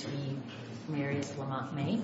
v. Marius Lamont Maye.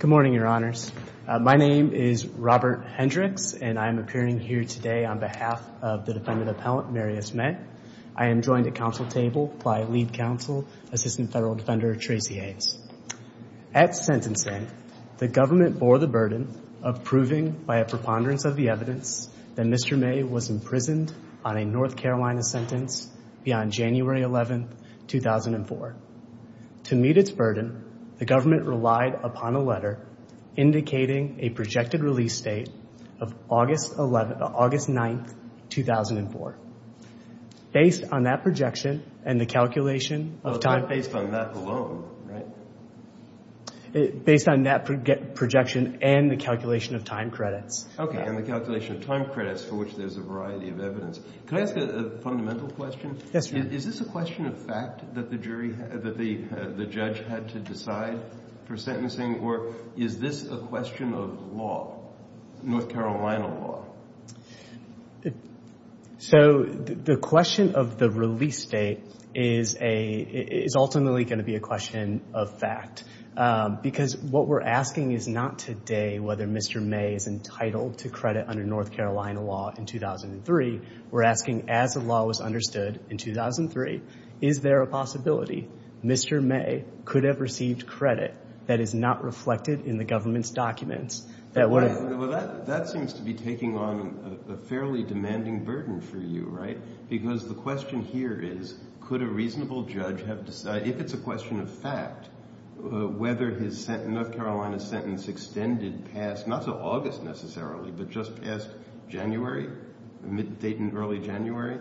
Good morning, your honors. My name is Robert Hendricks and I'm appearing here today on behalf of the defendant appellant Marius Maye. I am joined at council table by lead counsel, assistant federal defender Tracy Haynes. At sentencing, the government bore the burden of proving by a preponderance of the evidence that Mr. Maye was imprisoned on a North Carolina sentence beyond January 11, 2004. To meet its burden, the government relied upon a letter indicating a projected release date of August 9, 2004. Based on that projection and the calculation of time credits, for which there's a variety of evidence. Could I ask a fundamental question? Is this a question of fact that the judge had to decide for sentencing or is this a question of law, North Carolina law? So, the question of the release date is ultimately going to be a question of fact. Because what we're asking is not today whether Mr. Maye is entitled to credit under North Carolina law in 2003. We're asking as the law was understood in 2003, is there a possibility Mr. Maye could have received credit that is not reflected in the government's documents? Well, that seems to be taking on a fairly demanding burden for you, right? Because the question here is, could a reasonable judge have decided, if it's a question of fact, whether his North Carolina sentence extended past, not to August necessarily, but just past January, the mid-date and early January.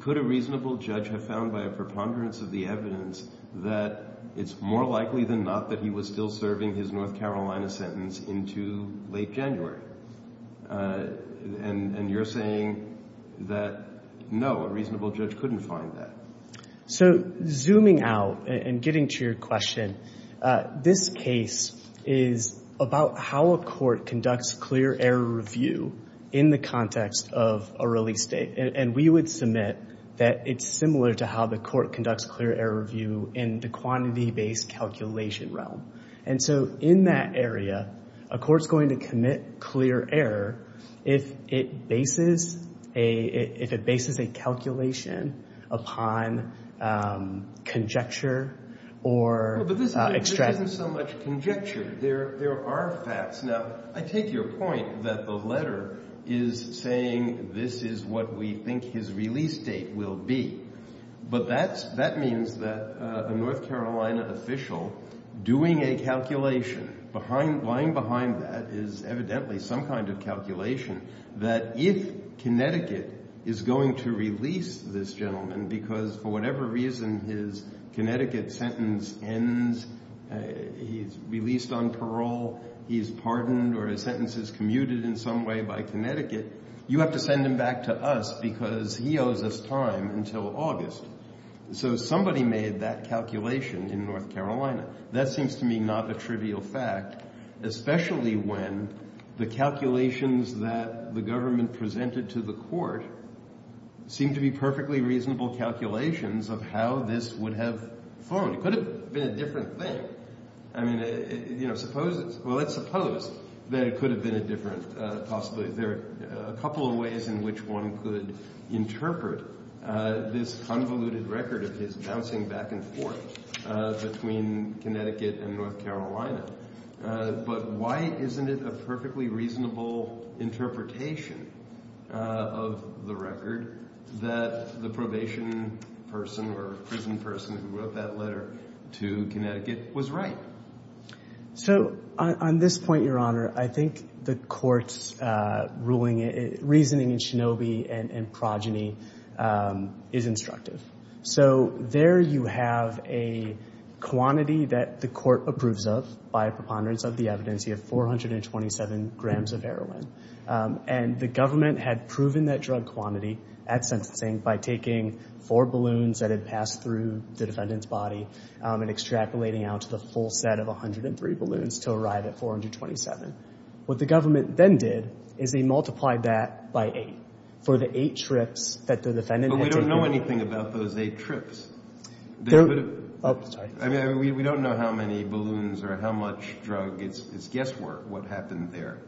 Could a reasonable judge have found, by a preponderance of the evidence, that it's more likely than not that he was still serving his North Carolina sentence into late January? And you're saying that, no, a reasonable judge couldn't find that. So zooming out and getting to your question, this case is about how a court conducts clear error review in the context of a release date. And we would submit that it's similar to how the court conducts clear error review in the quantity-based calculation realm. And so in that area, a court's going to commit clear error if it bases a calculation upon conjecture or extraction. Well, but this isn't so much conjecture. There are facts. Now, I take your point that the letter is saying this is what we think his release date will be. But that means that a North Carolina official doing a calculation, lying behind that is evidently some kind of calculation, that if Connecticut is going to release this gentleman because for whatever reason his Connecticut sentence ends, he's released on parole, he's pardoned or his sentence is commuted in some way by Connecticut, you have to send him back to us because he owes us time until August. So somebody made that calculation in North Carolina. That seems to me not a trivial fact, especially when the calculations that the government presented to the court seem to be perfectly reasonable calculations of how this would have formed. It could have been a different thing. I mean, you know, suppose it's, well, let's suppose that it could have been a different possibility. There are a couple of ways in which one could interpret this convoluted record of his bouncing back and forth between Connecticut and North Carolina. But why isn't it a perfectly reasonable interpretation of the record that the probation person or prison person who wrote that letter to Connecticut was right? So on this point, Your Honor, I think the court's reasoning in Shinobi and progeny is instructive. So there you have a quantity that the court approves of by preponderance of the evidence. You have 427 grams of heroin. And the government had proven that drug quantity at sentencing by taking four balloons that had passed through the defendant's body and extrapolating out to the full set of 103 balloons to arrive at 427. What the government then did is they multiplied that by eight for the eight trips that the defendant had taken. We don't know anything about those eight trips. I mean, we don't know how many balloons or how much drug. It's guesswork what happened there.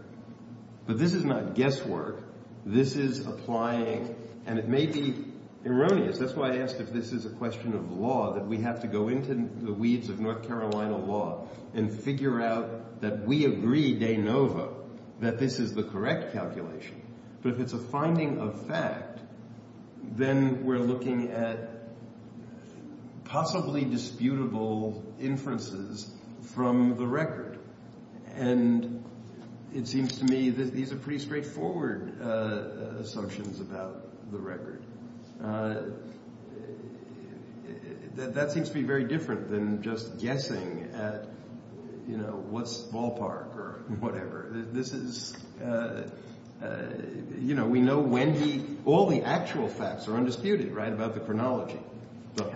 But this is not guesswork. This is applying. And it may be erroneous. That's why I asked if this is a question of law, that we have to go into the weeds of North Carolina law and figure out that we agree de novo that this is the correct calculation. But if it's a finding of fact, then we're looking at possibly disputable inferences from the record. And it seems to me that these are pretty straightforward assumptions about the record. That seems to be very different than just guessing at, you know, what's ballpark or whatever. This is, you know, we know when all the actual facts are undisputed, right, about the chronology.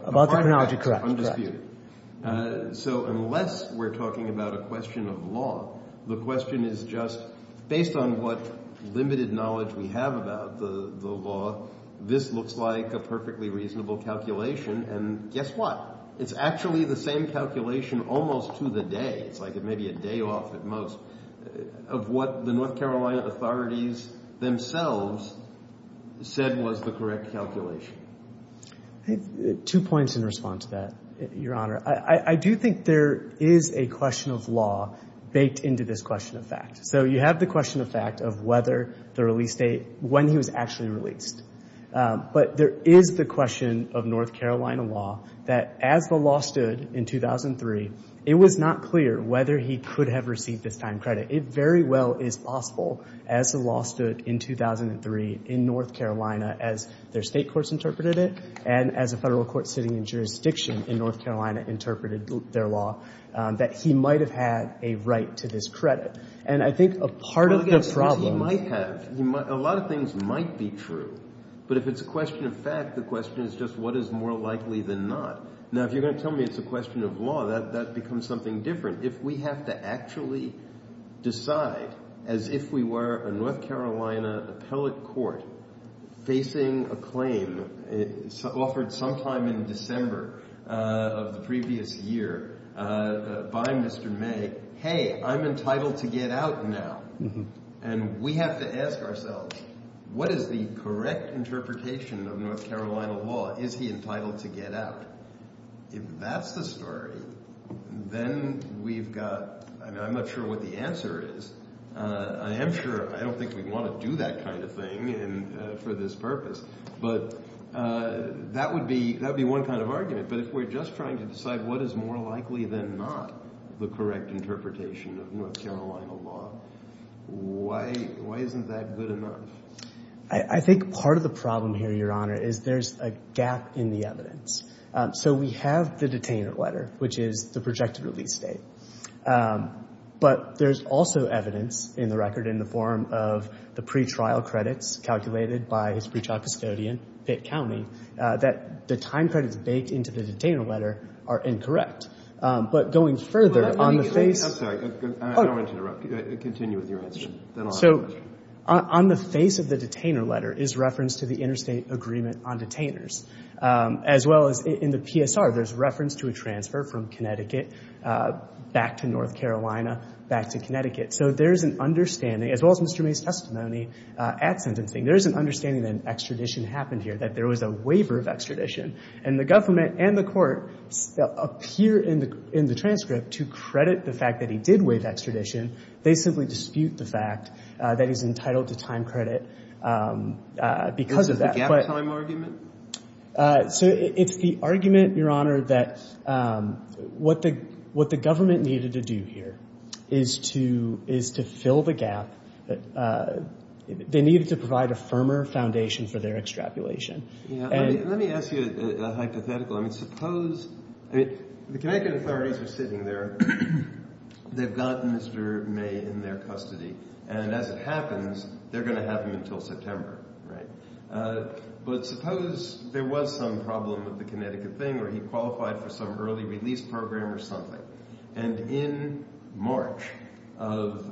About the chronology, correct. Undisputed. So unless we're talking about a question of law, the question is just based on what limited knowledge we have about the law, this looks like a perfectly reasonable calculation. And guess what? It's actually the same calculation almost to the day. It's like it may be a day off at most of what the North Carolina authorities themselves said was the correct calculation. Two points in response to that, Your Honor. I do think there is a question of law baked into this question of fact. So you have the question of fact of whether the release date, when he was actually released. But there is the question of North Carolina law that as the law stood in 2003, it was not clear whether he could have received this time credit. It very well is possible as the law stood in 2003 in North Carolina as their state courts interpreted it, and as a federal court sitting in jurisdiction in North Carolina interpreted their law, that he might have had a right to this credit. And I think a part of the problem — Well, I guess he might have. A lot of things might be true. But if it's a question of fact, the question is just what is more likely than not. Now, if you're going to tell me it's a question of law, that becomes something different. If we have to actually decide as if we were a North Carolina appellate court facing a claim offered sometime in December of the previous year by Mr. May, hey, I'm entitled to get out now. And we have to ask ourselves, what is the correct interpretation of North Carolina law? Is he entitled to get out? If that's the story, then we've got — I mean, I'm not sure what the answer is. I am sure — I don't think we want to do that kind of thing for this purpose. But that would be one kind of argument. But if we're just trying to decide what is more likely than not the correct interpretation of North Carolina law, why isn't that good enough? I think part of the problem here, Your Honor, is there's a gap in the evidence. So we have the detainer letter, which is the projected release date. But there's also evidence in the record in the form of the pretrial credits calculated by his pretrial custodian, Pitt County, that the time credits baked into the detainer letter are incorrect. But going further, on the face — I'm sorry. I don't want to interrupt. Continue with your answer. Then I'll ask the question. On the face of the detainer letter is reference to the interstate agreement on detainers, as well as in the PSR, there's reference to a transfer from Connecticut back to North Carolina back to Connecticut. So there is an understanding, as well as Mr. May's testimony at sentencing, there is an understanding that an extradition happened here, that there was a waiver of extradition. And the government and the court appear in the transcript to credit the fact that he did waive extradition. They simply dispute the fact that he's entitled to time credit because of that. Is it the gap time argument? So it's the argument, Your Honor, that what the government needed to do here is to fill the gap. They needed to provide a firmer foundation for their extrapolation. Let me ask you a hypothetical. I mean, suppose — I mean, the Connecticut authorities are sitting there. They've got Mr. May in their custody. And as it happens, they're going to have him until September, right? But suppose there was some problem with the Connecticut thing, or he qualified for some early release program or something. And in March of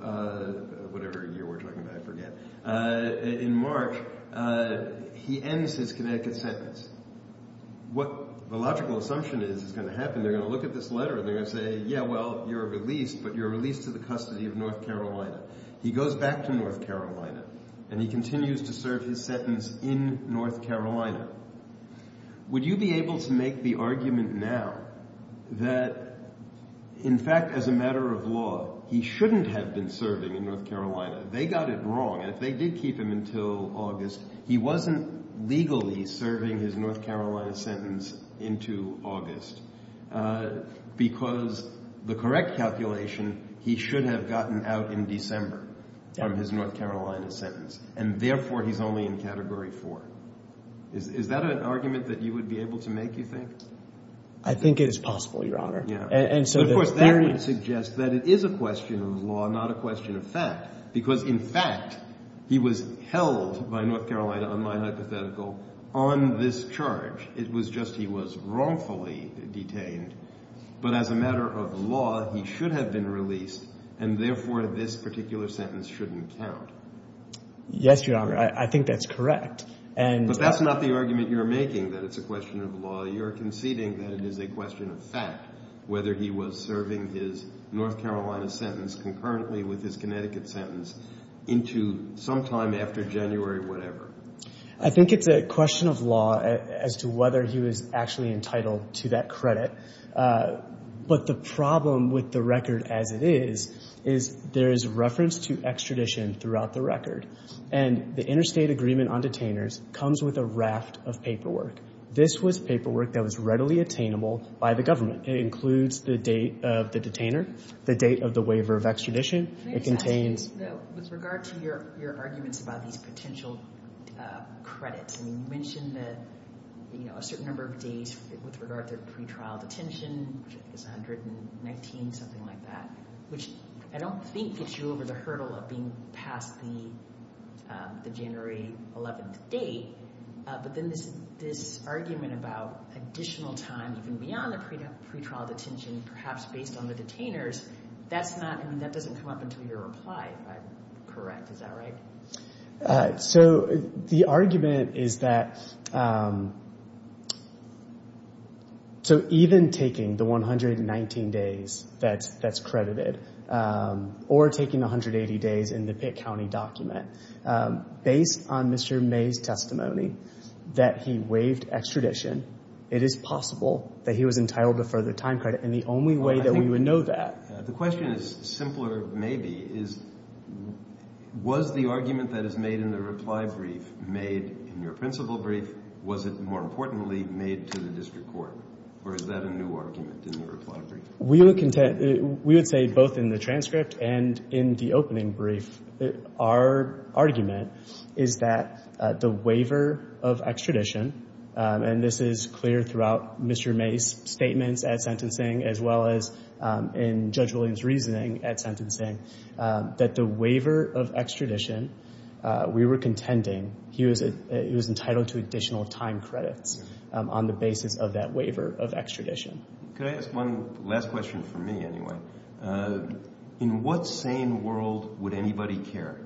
— whatever year we're talking about, I forget — in March, he ends his Connecticut sentence. What the logical assumption is is going to happen, they're going to look at this letter and they're going to say, yeah, well, you're released, but you're released to the custody of North Carolina. He goes back to North Carolina and he continues to serve his sentence in North Carolina. Would you be able to make the argument now that, in fact, as a matter of law, he shouldn't have been serving in North Carolina? They got it wrong. And if they did keep him until August, he wasn't legally serving his North Carolina sentence into August, because the correct calculation, he should have gotten out in December from his North Carolina sentence, and therefore he's only in Category 4. Is that an argument that you would be able to make, you think? I think it is possible, Your Honor. And so the theory — But of course, that would suggest that it is a question of law, not a question of fact, because, in fact, he was held by North Carolina, on my hypothetical, on this charge. It was just he was wrongfully detained. But as a matter of law, he should have been released, and therefore this particular sentence shouldn't count. Yes, Your Honor, I think that's correct. But that's not the argument you're making, that it's a question of law. You're conceding that it is a question of fact, whether he was serving his North Carolina sentence concurrently with his Connecticut sentence into sometime after January whatever. I think it's a question of law as to whether he was actually entitled to that credit. But the problem with the record as it is, is there is reference to extradition throughout the record. And the interstate agreement on detainers comes with a raft of paperwork. This was paperwork that was readily attainable by the government. It includes the date of the detainer, the date of the waiver of extradition. It contains... With regard to your arguments about these potential credits, you mentioned that a certain number of days with regard to pre-trial detention, which is 119, something like that, which I don't think gets you over the hurdle of being past the January 11th date, but then this argument about additional time even beyond the pre-trial detention, perhaps based on the detainers, that doesn't come up until your reply, if I'm correct, is that right? So the argument is that... So even taking the 119 days that's credited, or taking the 180 days in the Pitt County document, based on Mr. May's testimony that he waived extradition, it is possible that he was entitled to further time credit. And the only way that we would know that... The question is, simpler maybe, is was the argument that is made in the reply brief made in your principal brief? Was it, more importantly, made to the district court, or is that a new argument in the reply brief? We would say, both in the transcript and in the opening brief, our argument is that the waiver of extradition, and this is clear throughout Mr. May's statements at sentencing, as well as in Judge Williams' reasoning at sentencing, that the waiver of extradition, we were contending he was entitled to additional time credits on the basis of that waiver of extradition. Could I ask one last question for me, anyway? In what sane world would anybody care?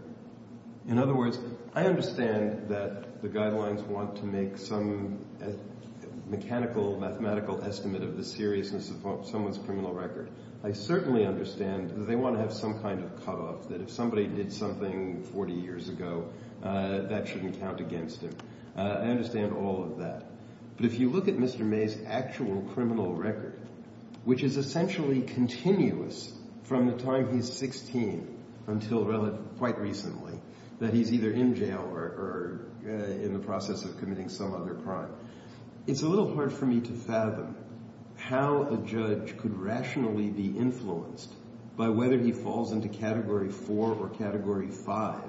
In other words, I understand that the guidelines want to make some mechanical, mathematical estimate of the seriousness of someone's criminal record. I certainly understand that they want to have some kind of cutoff, that if somebody did something 40 years ago, that shouldn't count against him. I understand all of that. But if you look at Mr. May's actual criminal record, which is essentially continuous from the time he's 16 until quite recently, that he's either in jail or in the process of committing some other crime, it's a little hard for me to fathom how a judge could rationally be influenced by whether he falls into Category 4 or Category 5,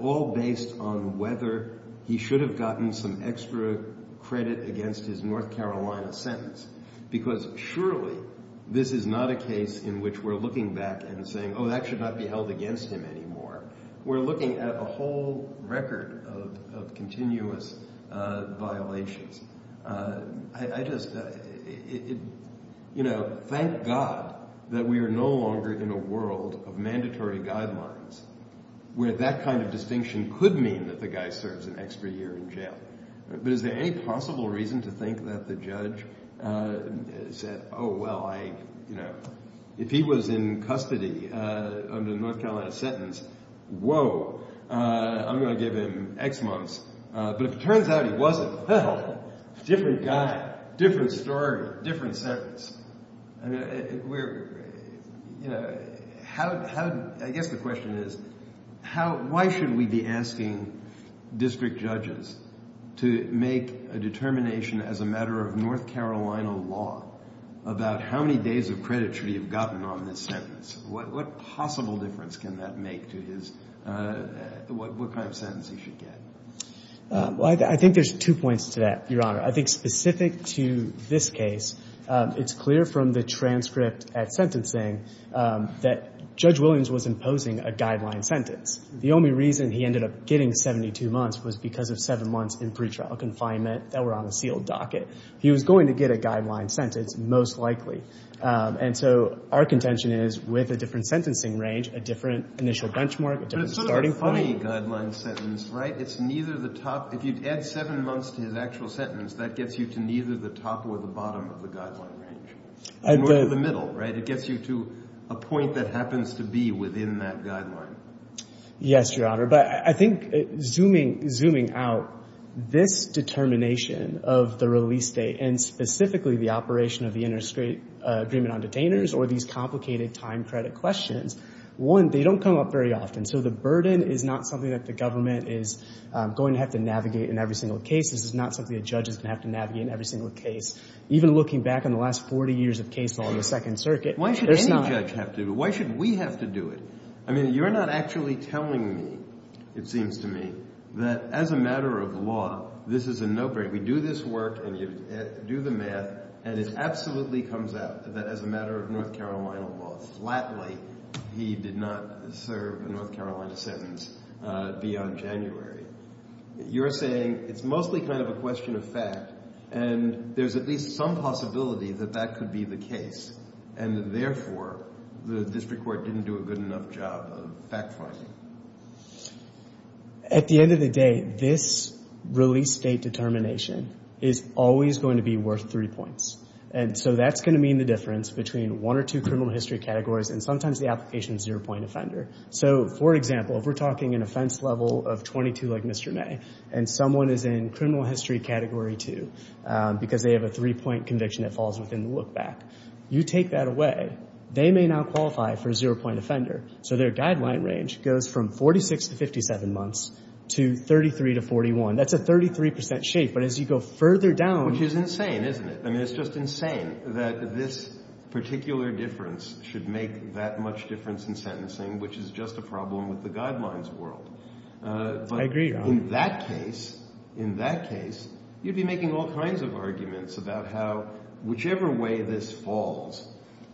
all based on whether he should have gotten some extra credit against his North Carolina sentence. Because surely this is not a case in which we're looking back and saying, oh, that should not be held against him anymore. We're looking at a whole record of continuous violations. I just, you know, thank God that we are no longer in a world of mandatory guidelines where that kind of distinction could mean that the guy serves an extra year in jail. But is there any possible reason to think that the judge said, oh, well, I, you know, if he was in custody under the North Carolina sentence, whoa, I'm going to give him X months. But if it turns out he wasn't, well, different guy, different story, different sentence. I mean, we're, you know, how, I guess the question is, how, why should we be asking district judges to make a determination as a matter of North Carolina law about how many days of credit should he have gotten on this sentence? What possible difference can that make to his, what kind of sentence he should get? I think there's two points to that, Your Honor. I think specific to this case, it's clear from the transcript at sentencing that Judge Williams was imposing a guideline sentence. The only reason he ended up getting 72 months was because of seven months in pretrial confinement that were on a sealed docket. He was going to get a guideline sentence, most likely. And so our contention is with a different sentencing range, a different initial benchmark, a different starting point. But it's sort of a funny guideline sentence, right? It's neither the top. If you add seven months to his actual sentence, that gets you to neither the top or the bottom of the guideline range. And we're in the middle, right? It gets you to a point that happens to be within that guideline. Yes, Your Honor. But I think zooming out, this determination of the release date and specifically the operation of the interstate agreement on detainers or these complicated time credit questions, one, they don't come up very often. And so the burden is not something that the government is going to have to navigate in every single case. This is not something a judge is going to have to navigate in every single case. Even looking back on the last 40 years of case law in the Second Circuit, it's not. Why should any judge have to do it? Why should we have to do it? I mean, you're not actually telling me, it seems to me, that as a matter of law, this is a no-brainer. We do this work and you do the math, and it absolutely comes out that as a matter of North Carolina sentence, beyond January, you're saying it's mostly kind of a question of fact and there's at least some possibility that that could be the case and therefore the district court didn't do a good enough job of fact-finding. At the end of the day, this release date determination is always going to be worth three points. And so that's going to mean the difference between one or two criminal history categories and sometimes the application is a zero-point offender. So, for example, if we're talking an offense level of 22, like Mr. May, and someone is in criminal history category two, because they have a three-point conviction that falls within the look-back, you take that away, they may not qualify for a zero-point offender. So their guideline range goes from 46 to 57 months to 33 to 41. That's a 33% shape. But as you go further down... Which is insane, isn't it? I mean, it's just insane that this particular difference should make that much difference in sentencing, which is just a problem with the guidelines world. I agree, John. But in that case, in that case, you'd be making all kinds of arguments about how, whichever way this falls,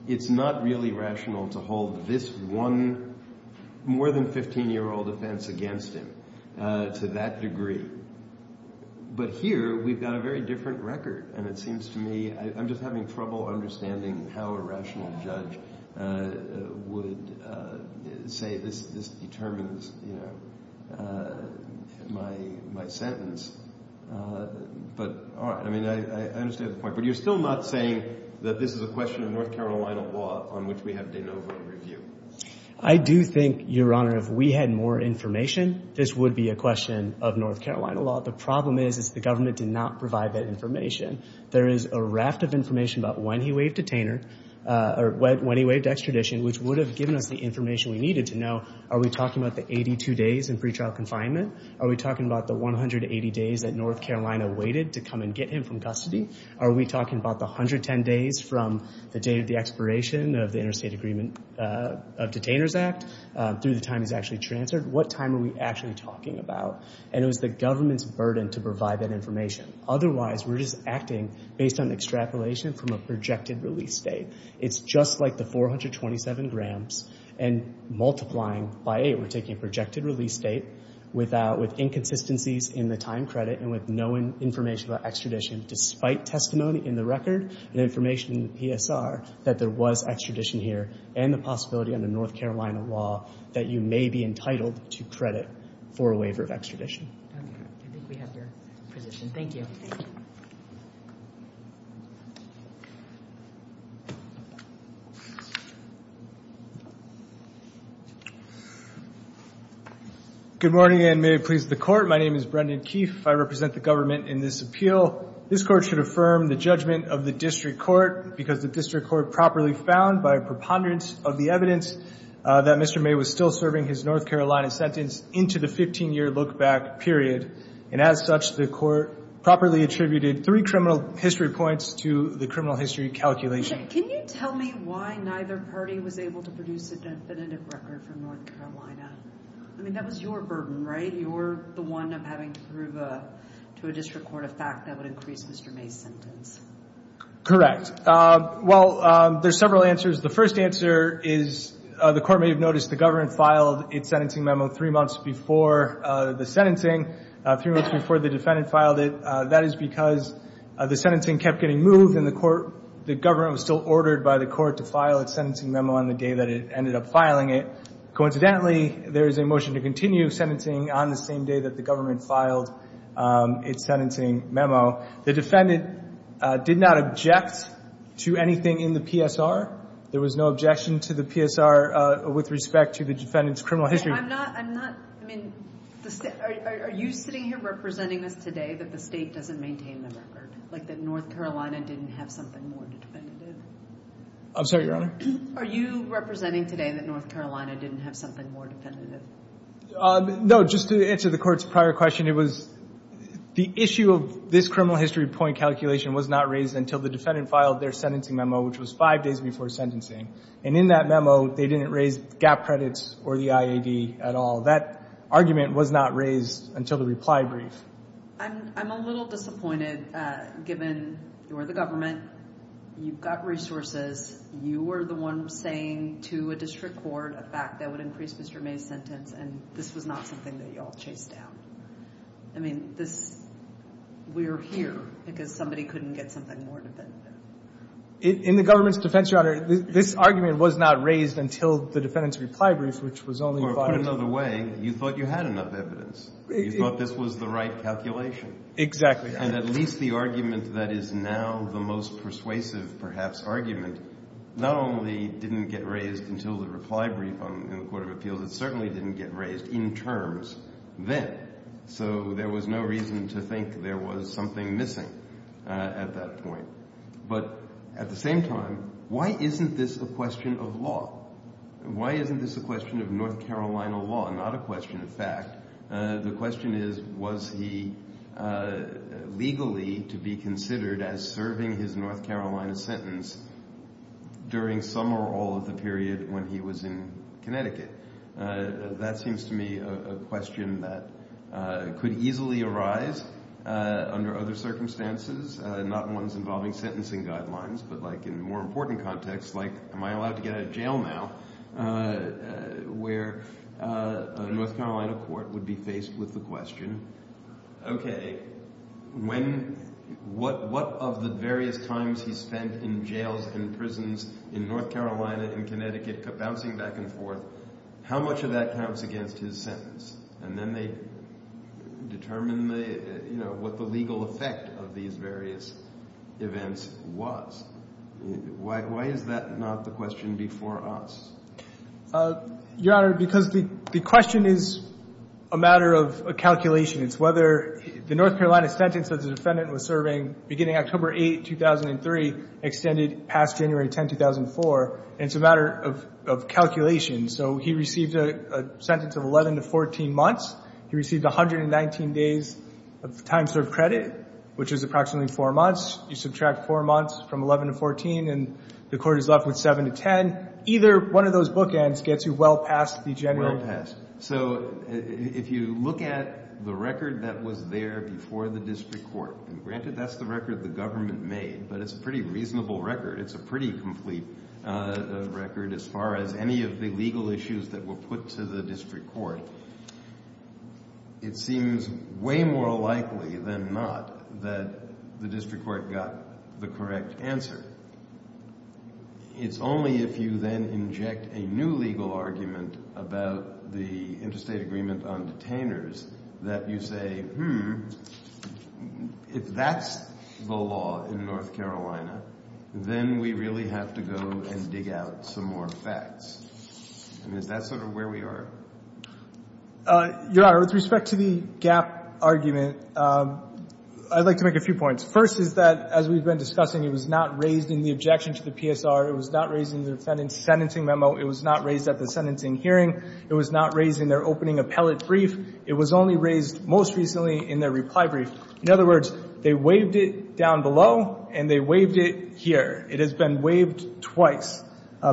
it's not really rational to hold this one more than 15-year-old offense against him to that degree. But here we've got a very different record and it seems to me, I'm just having trouble understanding how a rational judge would say, this determines, you know, my sentence. But, all right, I mean, I understand the point, but you're still not saying that this is a question of North Carolina law on which we have de novo review. I do think, Your Honor, if we had more information, this would be a question of North Carolina law. The problem is, is the government did not provide that information. There is a raft of information about when he waived detainer, or when he waived extradition, which would have given us the information we needed to know, are we talking about the 82 days in pretrial confinement? Are we talking about the 180 days that North Carolina waited to come and get him from custody? Are we talking about the 110 days from the date of the expiration of the Interstate Agreement of Detainers Act, through the time he's actually transferred? What time are we actually talking about? And it was the government's burden to provide that information. Otherwise, we're just acting based on extrapolation from a projected release date. It's just like the 427 grams, and multiplying by eight, we're taking a projected release date with inconsistencies in the time credit and with no information about extradition, despite testimony in the record and information in the PSR that there was extradition here, and the possibility under North Carolina law that you may be entitled to credit for a waiver of extradition. Okay. I think we have your position. Thank you. Good morning, and may it please the Court. My name is Brendan Keefe. I represent the government in this appeal. This Court should affirm the judgment of the District Court because the District Court properly found, by preponderance of the evidence, that Mr. May was still serving his North Carolina sentence into the 15-year look-back period. And as such, the Court properly attributed three criminal history points to the criminal history calculation. Can you tell me why neither party was able to produce a definitive record for North Carolina? I mean, that was your burden, right? You're the one having to prove to a District Court a fact that would increase Mr. May's sentence. Correct. Well, there's several answers. The first answer is the Court may have noticed the government filed its sentencing memo three months before the sentencing, three months before the defendant filed it. That is because the sentencing kept getting moved, and the government was still ordered by the Court to file its sentencing memo on the day that it ended up filing it. Coincidentally, there is a motion to continue sentencing on the same day that the government filed its sentencing memo. The defendant did not object to anything in the PSR. There was no objection to the PSR with respect to the defendant's criminal history. No, I'm not, I'm not, I mean, are you sitting here representing us today that the state doesn't maintain the record, like that North Carolina didn't have something more definitive? I'm sorry, Your Honor? Are you representing today that North Carolina didn't have something more definitive? No, just to answer the Court's prior question, it was, the issue of this criminal history point calculation was not raised until the defendant filed their sentencing memo, which was five days before sentencing. And in that memo, they didn't raise gap credits or the IAD at all. That argument was not raised until the reply brief. I'm, I'm a little disappointed, given you're the government, you've got resources, you were the one saying to a district court a fact that would increase Mr. May's sentence, and this was not something that you all chased down. I mean, this, we're here because somebody couldn't get something more definitive. In the government's defense, Your Honor, this argument was not raised until the defendant's reply brief, which was only five days. Or put another way, you thought you had enough evidence. You thought this was the right calculation. Exactly. And at least the argument that is now the most persuasive, perhaps, argument, not only didn't get raised until the reply brief in the Court of Appeals, it certainly didn't get raised in terms then. So there was no reason to think there was something missing at that point. But at the same time, why isn't this a question of law? Why isn't this a question of North Carolina law? Not a question of fact. The question is, was he legally to be considered as serving his North Carolina sentence during some or all of the period when he was in Connecticut? That seems to me a question that could easily arise under other circumstances, not ones involving sentencing guidelines, but like in more important contexts, like am I allowed to get out of jail now, where a North Carolina court would be faced with the question, okay, when, what of the various times he spent in jails and prisons in North Carolina and Connecticut bouncing back and forth, how much of that counts against his sentence? And then they determine what the legal effect of these various events was. Why is that not the question before us? Your Honor, because the question is a matter of calculation. It's whether the North Carolina sentence that the defendant was serving beginning October 8, 2003 extended past January 10, 2004. And it's a matter of calculation. So he received a sentence of 11 to 14 months. He received 119 days of time served credit, which is approximately four months. You subtract four months from 11 to 14, and the court is left with 7 to 10. Either one of those bookends gets you well past the January. Well past. So if you look at the record that was there before the district court, and granted that's the record the government made, but it's a pretty reasonable record. It's a pretty complete record as far as any of the legal issues that were put to the district court. It seems way more likely than not that the district court got the correct answer. It's only if you then inject a new legal argument about the interstate agreement on detainers that you say, hmm, if that's the law in North Carolina, then we really have to go and dig out some more facts. And is that sort of where we are? Your Honor, with respect to the GAP argument, I'd like to make a few points. First is that, as we've been discussing, it was not raised in the objection to the PSR. It was not raised in the defendant's sentencing memo. It was not raised at the sentencing hearing. It was not raised in their opening appellate brief. It was only raised most recently in their reply brief. In other words, they waived it down below, and they waived it here. It has been waived twice.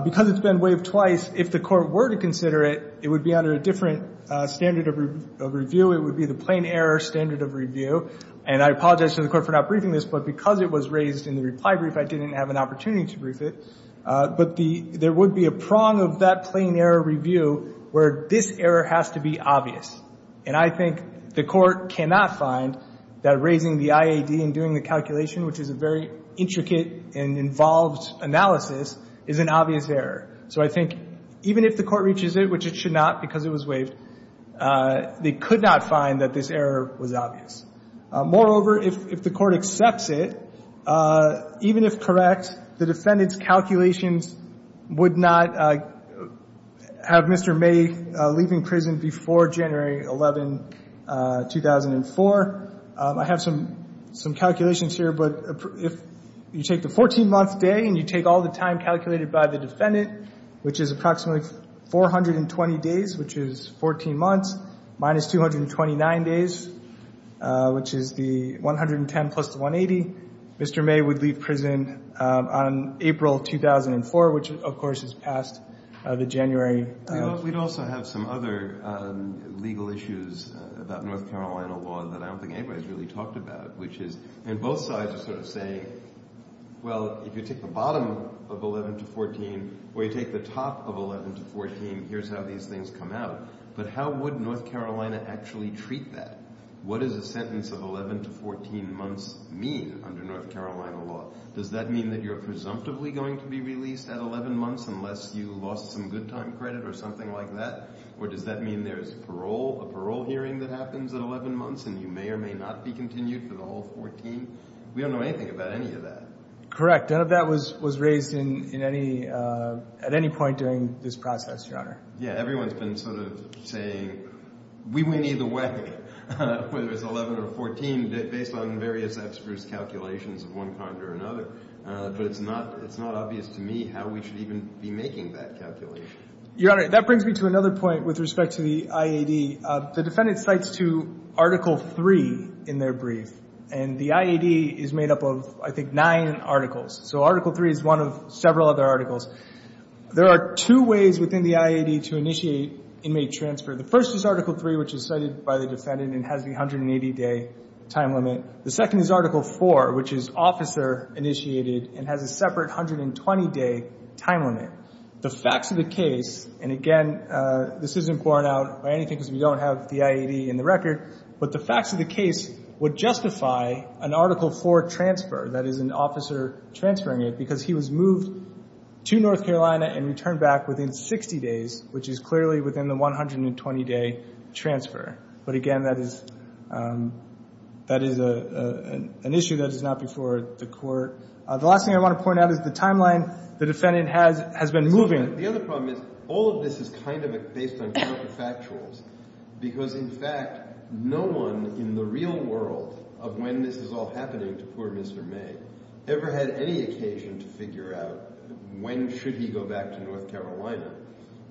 Because it's been waived twice, if the court were to consider it, it would be under a different standard of review. It would be the plain error standard of review. And I apologize to the court for not briefing this, but because it was raised in the reply brief, I didn't have an opportunity to brief it. But there would be a prong of that plain error review where this error has to be obvious. And I think the court cannot find that raising the IAD and doing the calculation, which is a very intricate and involved analysis, is an obvious error. So I think even if the court reaches it, which it should not because it was waived, they could not find that this error was obvious. Moreover, if the court accepts it, even if correct, the defendant's calculations would not have Mr. May leaving prison before January 11, 2004. I have some calculations here. But if you take the 14-month day and you take all the time calculated by the defendant, which is approximately 420 days, which is 14 months, minus 229 days, which is the 110 plus the 180, Mr. May would leave prison on April 2004, which of course is past the January... We'd also have some other legal issues about North Carolina law that I don't think anybody's really talked about, which is... And both sides are sort of saying, well, if you take the bottom of 11 to 14, or you take the top of 11 to 14, here's how these things come out. But how would North Carolina actually treat that? What does a sentence of 11 to 14 months mean under North Carolina law? Does that mean that you're presumptively going to be released at 11 months unless you lost some good time credit or something like that? Or does that mean there's a parole hearing that happens at 11 months and you may or may not be continued for the whole 14? We don't know anything about any of that. Correct. None of that was raised at any point during this process, Your Honor. Yeah, everyone's been sort of saying, we win either way, whether it's 11 or 14, based on various experts' calculations of one kind or another. But it's not obvious to me how we should even be making that calculation. Your Honor, that brings me to another point with respect to the IAD. The defendant cites to Article III in their brief. And the IAD is made up of, I think, nine articles. So Article III is one of several other articles. There are two ways within the IAD to initiate inmate transfer. The first is Article III, which is cited by the defendant and has the 180-day time limit. The second is Article IV, which is officer-initiated and has a separate 120-day time limit. The facts of the case, and again, this isn't borne out by anything because we don't have the IAD in the record, but the facts of the case would justify an Article IV transfer, that is, an officer transferring it because he was moved to North Carolina and returned back within 60 days, which is clearly within the 120-day transfer. But again, that is an issue that is not before the court. The last thing I want to point out is the timeline the defendant has been moving. The other problem is all of this is kind of based on counterfactuals because, in fact, no one in the real world of when this is all happening to poor Mr. May ever had any occasion to figure out when should he go back to North Carolina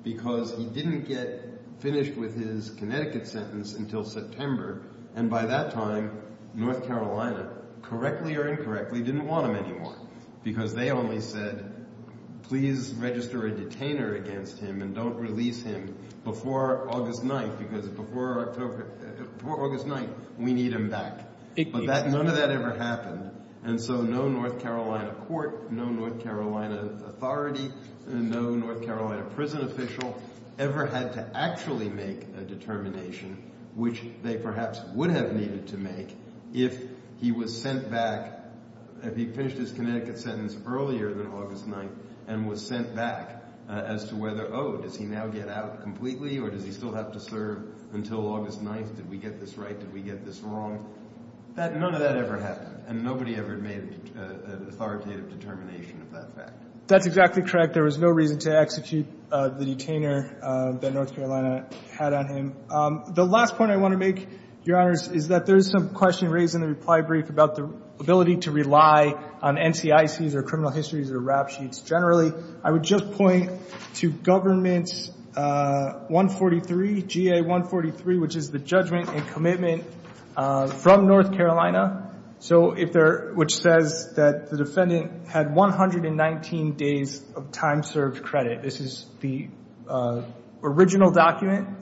because he didn't get finished with his Connecticut sentence until September, and by that time, North Carolina, correctly or incorrectly, didn't want him anymore because they only said, please register a detainer against him and don't release him before August 9th because before August 9th, we need him back. But none of that ever happened, and so no North Carolina court, no North Carolina authority, no North Carolina prison official ever had to actually make a determination, which they perhaps would have needed to make, if he was sent back, if he finished his Connecticut sentence earlier than August 9th and was sent back as to whether, oh, does he now get out completely or does he still have to serve until August 9th? Did we get this right? Did we get this wrong? None of that ever happened, and nobody ever made an authoritative determination of that fact. That's exactly correct. There was no reason to execute the detainer that North Carolina had on him. The last point I want to make, Your Honors, is that there is some question raised in the reply brief about the ability to rely on NCICs or criminal histories or rap sheets generally. I would just point to Government GA-143, which is the judgment and commitment from North Carolina, which says that the defendant had 119 days of time served credit. This is the original document.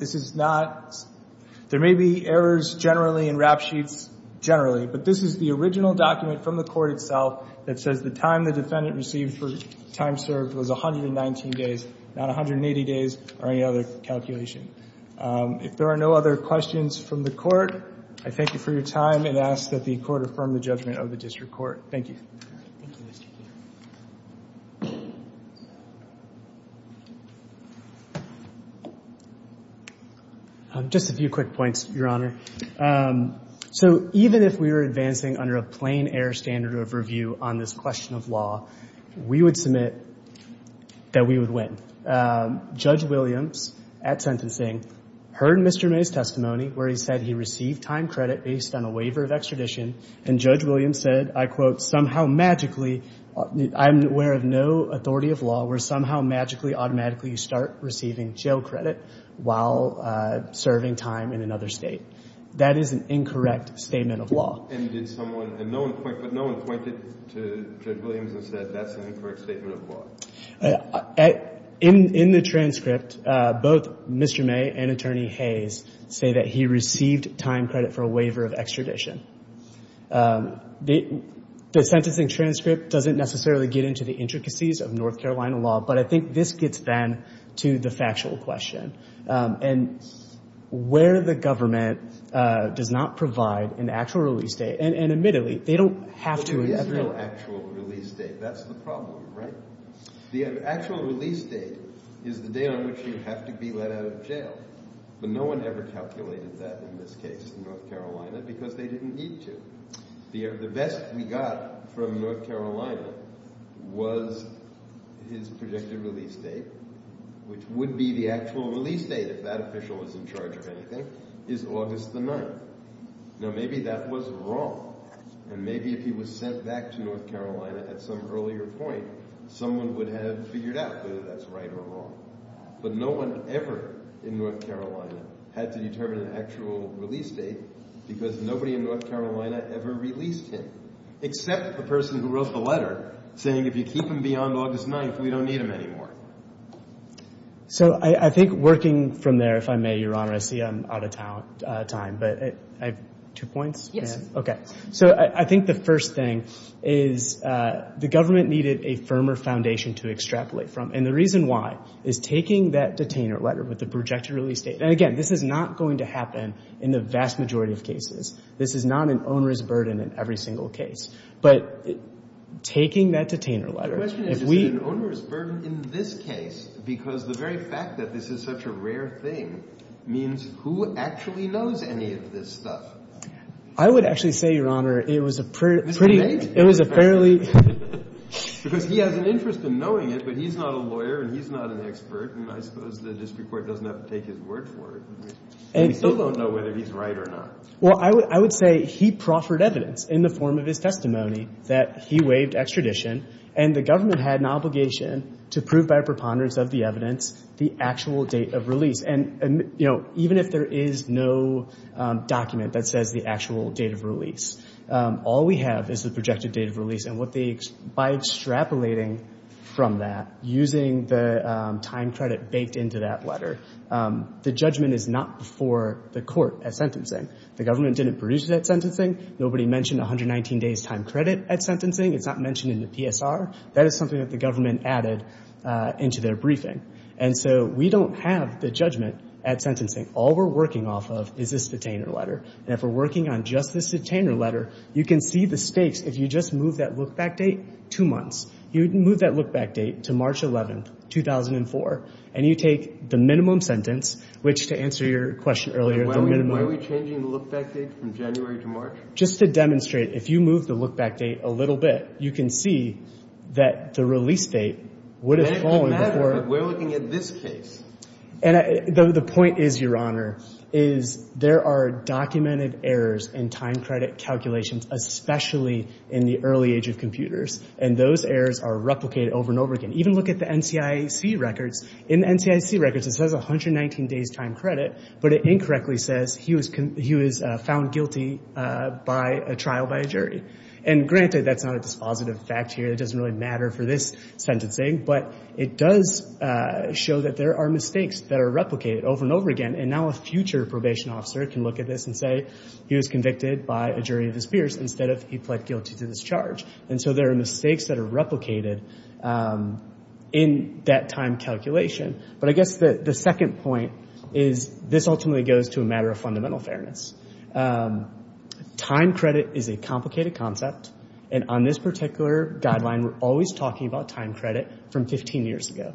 There may be errors generally and rap sheets generally, but this is the original document from the court itself that says the time the defendant received for time served was 119 days, not 180 days or any other calculation. If there are no other questions from the court, I thank you for your time and ask that the court affirm the judgment of the district court. Thank you. Just a few quick points, Your Honor. So even if we were advancing under a plain air standard of review on this question of law, we would submit that we would win. Judge Williams, at sentencing, heard Mr. May's testimony where he said he received time credit based on a waiver of extradition, and Judge Williams said, I quote, somehow magically, I'm aware of no authority of law where somehow magically, automatically you start receiving jail credit while serving time in another state. That is an incorrect statement of law. And did someone, and no one pointed, but no one pointed to Judge Williams and said that's an incorrect statement of law. In the transcript, both Mr. May and Attorney Hayes say that he received time credit for a waiver of extradition. The sentencing transcript doesn't necessarily get into the intricacies of North Carolina law, but I think this gets then to the factual question. And where the government does not provide an actual release date, and admittedly, they don't have to. There is no actual release date. That's the problem, right? The actual release date is the day on which you have to be let out of jail. But no one ever calculated that in this case in North Carolina, because they didn't need to. The best we got from North Carolina was his projected release date, which would be the actual release date if that official was in charge of anything, is August the 9th. Now maybe that was wrong. And maybe if he was sent back to North Carolina at some earlier point, someone would have figured out whether that's right or wrong. But no one ever in North Carolina had to determine an actual release date, because nobody in North Carolina ever released him, except the person who wrote the letter saying, if you keep him beyond August 9th, we don't need him anymore. So I think working from there, if I may, Your Honor, I see I'm out of time, but I have two points? Okay. So I think the first thing is, the government needed a firmer foundation to extrapolate from. And the reason why is taking that detainer letter with the projected release date, and again, this is not going to happen in the vast majority of cases. This is not an owner's burden in every single case. But taking that detainer letter, if we... The question is, is it an owner's burden in this case, because the very fact that this is such a rare thing means who actually knows any of this stuff? I would actually say, Your Honor, it was a pretty... This is amazing. It was a fairly... Because he has an interest in knowing it, but he's not a lawyer, and he's not an expert, and I suppose the district court doesn't have to take his word for it. And we still don't know whether he's right or not. Well, I would say he proffered evidence in the form of his testimony that he waived extradition, and the government had an obligation to prove by a preponderance of the evidence the actual date of release. And even if there is no document that says the actual date of release, all we have is the projected date of release. And by extrapolating from that, using the time credit baked into that letter, the judgment is not before the court at sentencing. The government didn't produce that sentencing. Nobody mentioned 119 days' time credit at sentencing. It's not mentioned in the PSR. That is something that the government added into their briefing. And so we don't have the judgment at sentencing. All we're working off of is this detainer letter. And if we're working on just this detainer letter, you can see the stakes. If you just move that look-back date, two months. You move that look-back date to March 11, 2004, and you take the minimum sentence, which, to answer your question earlier, the minimum... Why are we changing the look-back date from January to March? Just to demonstrate, if you move the look-back date a little bit, you can see that the release date would have fallen before... It doesn't matter, but we're looking at this case. And the point is, Your Honor, is there are documented errors in time credit calculations, especially in the early age of computers. And those errors are replicated over and over again. Even look at the NCIC records. In the NCIC records, it says 119 days time credit, but it incorrectly says he was found guilty by a trial by a jury. And granted, that's not a dispositive fact here. It doesn't really matter for this sentencing. But it does show that there are mistakes that are replicated over and over again. And now a future probation officer can look at this and say, he was convicted by a jury of his peers instead of he pled guilty to this charge. And so there are mistakes that are replicated in that time calculation. But I guess the second point is, this ultimately goes to a matter of fundamental fairness. Time credit is a complicated concept. And on this particular guideline, we're always talking about time credit from 15 years ago.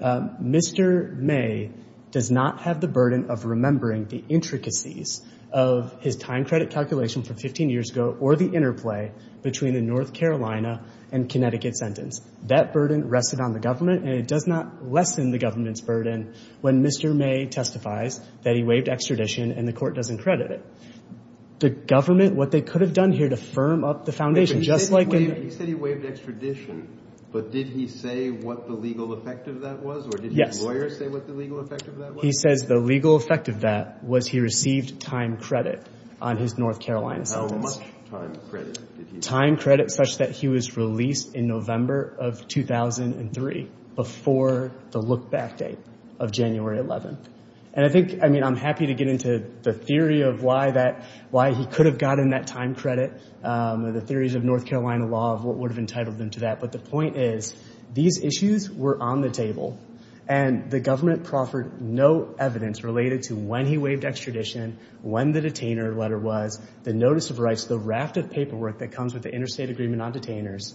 Mr. May does not have the burden of remembering the intricacies of his time credit calculation from 15 years ago or the interplay between the North Carolina and Connecticut sentence. That burden rested on the government, and it does not lessen the government's burden when Mr. May testifies that he waived extradition and the court doesn't credit it. The government, what they could have done here to firm up the foundation, just like... He said he waived extradition, but did he say what the legal effect of that was? Yes. Or did his lawyer say what the legal effect of that was? He says the legal effect of that was he received time credit on his North Carolina sentence. How much time credit did he receive? Time credit such that he was released in November of 2003 before the look-back date of January 11th. And I think, I mean, I'm happy to get into the theory of why he could have gotten that time credit, the theories of North Carolina law of what would have entitled him to that. But the point is, these issues were on the table. And the government proffered no evidence related to when he waived extradition, when the detainer letter was, the notice of rights, the raft of paperwork that comes with the interstate agreement on detainers.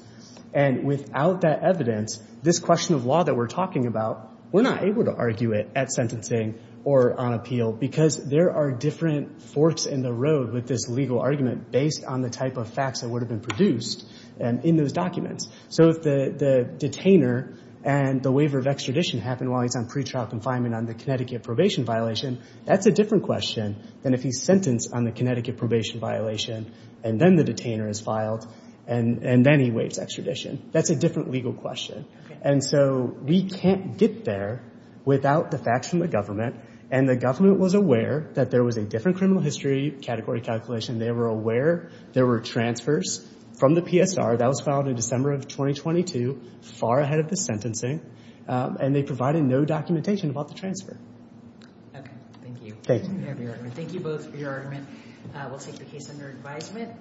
And without that evidence, this question of law that we're talking about, we're not able to argue it at sentencing or on appeal because there are different forks in the road with this legal argument based on the type of facts that would have been produced in those documents. So if the detainer and the waiver of extradition happen while he's on pretrial confinement on the Connecticut probation violation, that's a different question than if he's sentenced on the Connecticut probation violation and then the detainer is filed and then he waives extradition. That's a different legal question. And so we can't get there without the facts from the government. And the government was aware that there was a different criminal history category calculation. They were aware there were transfers from the PSR. That was filed in December of 2022, far ahead of the sentencing. And they provided no documentation about the transfer. Okay. Thank you. Thank you. Thank you both for your argument. We'll take the case under advisement.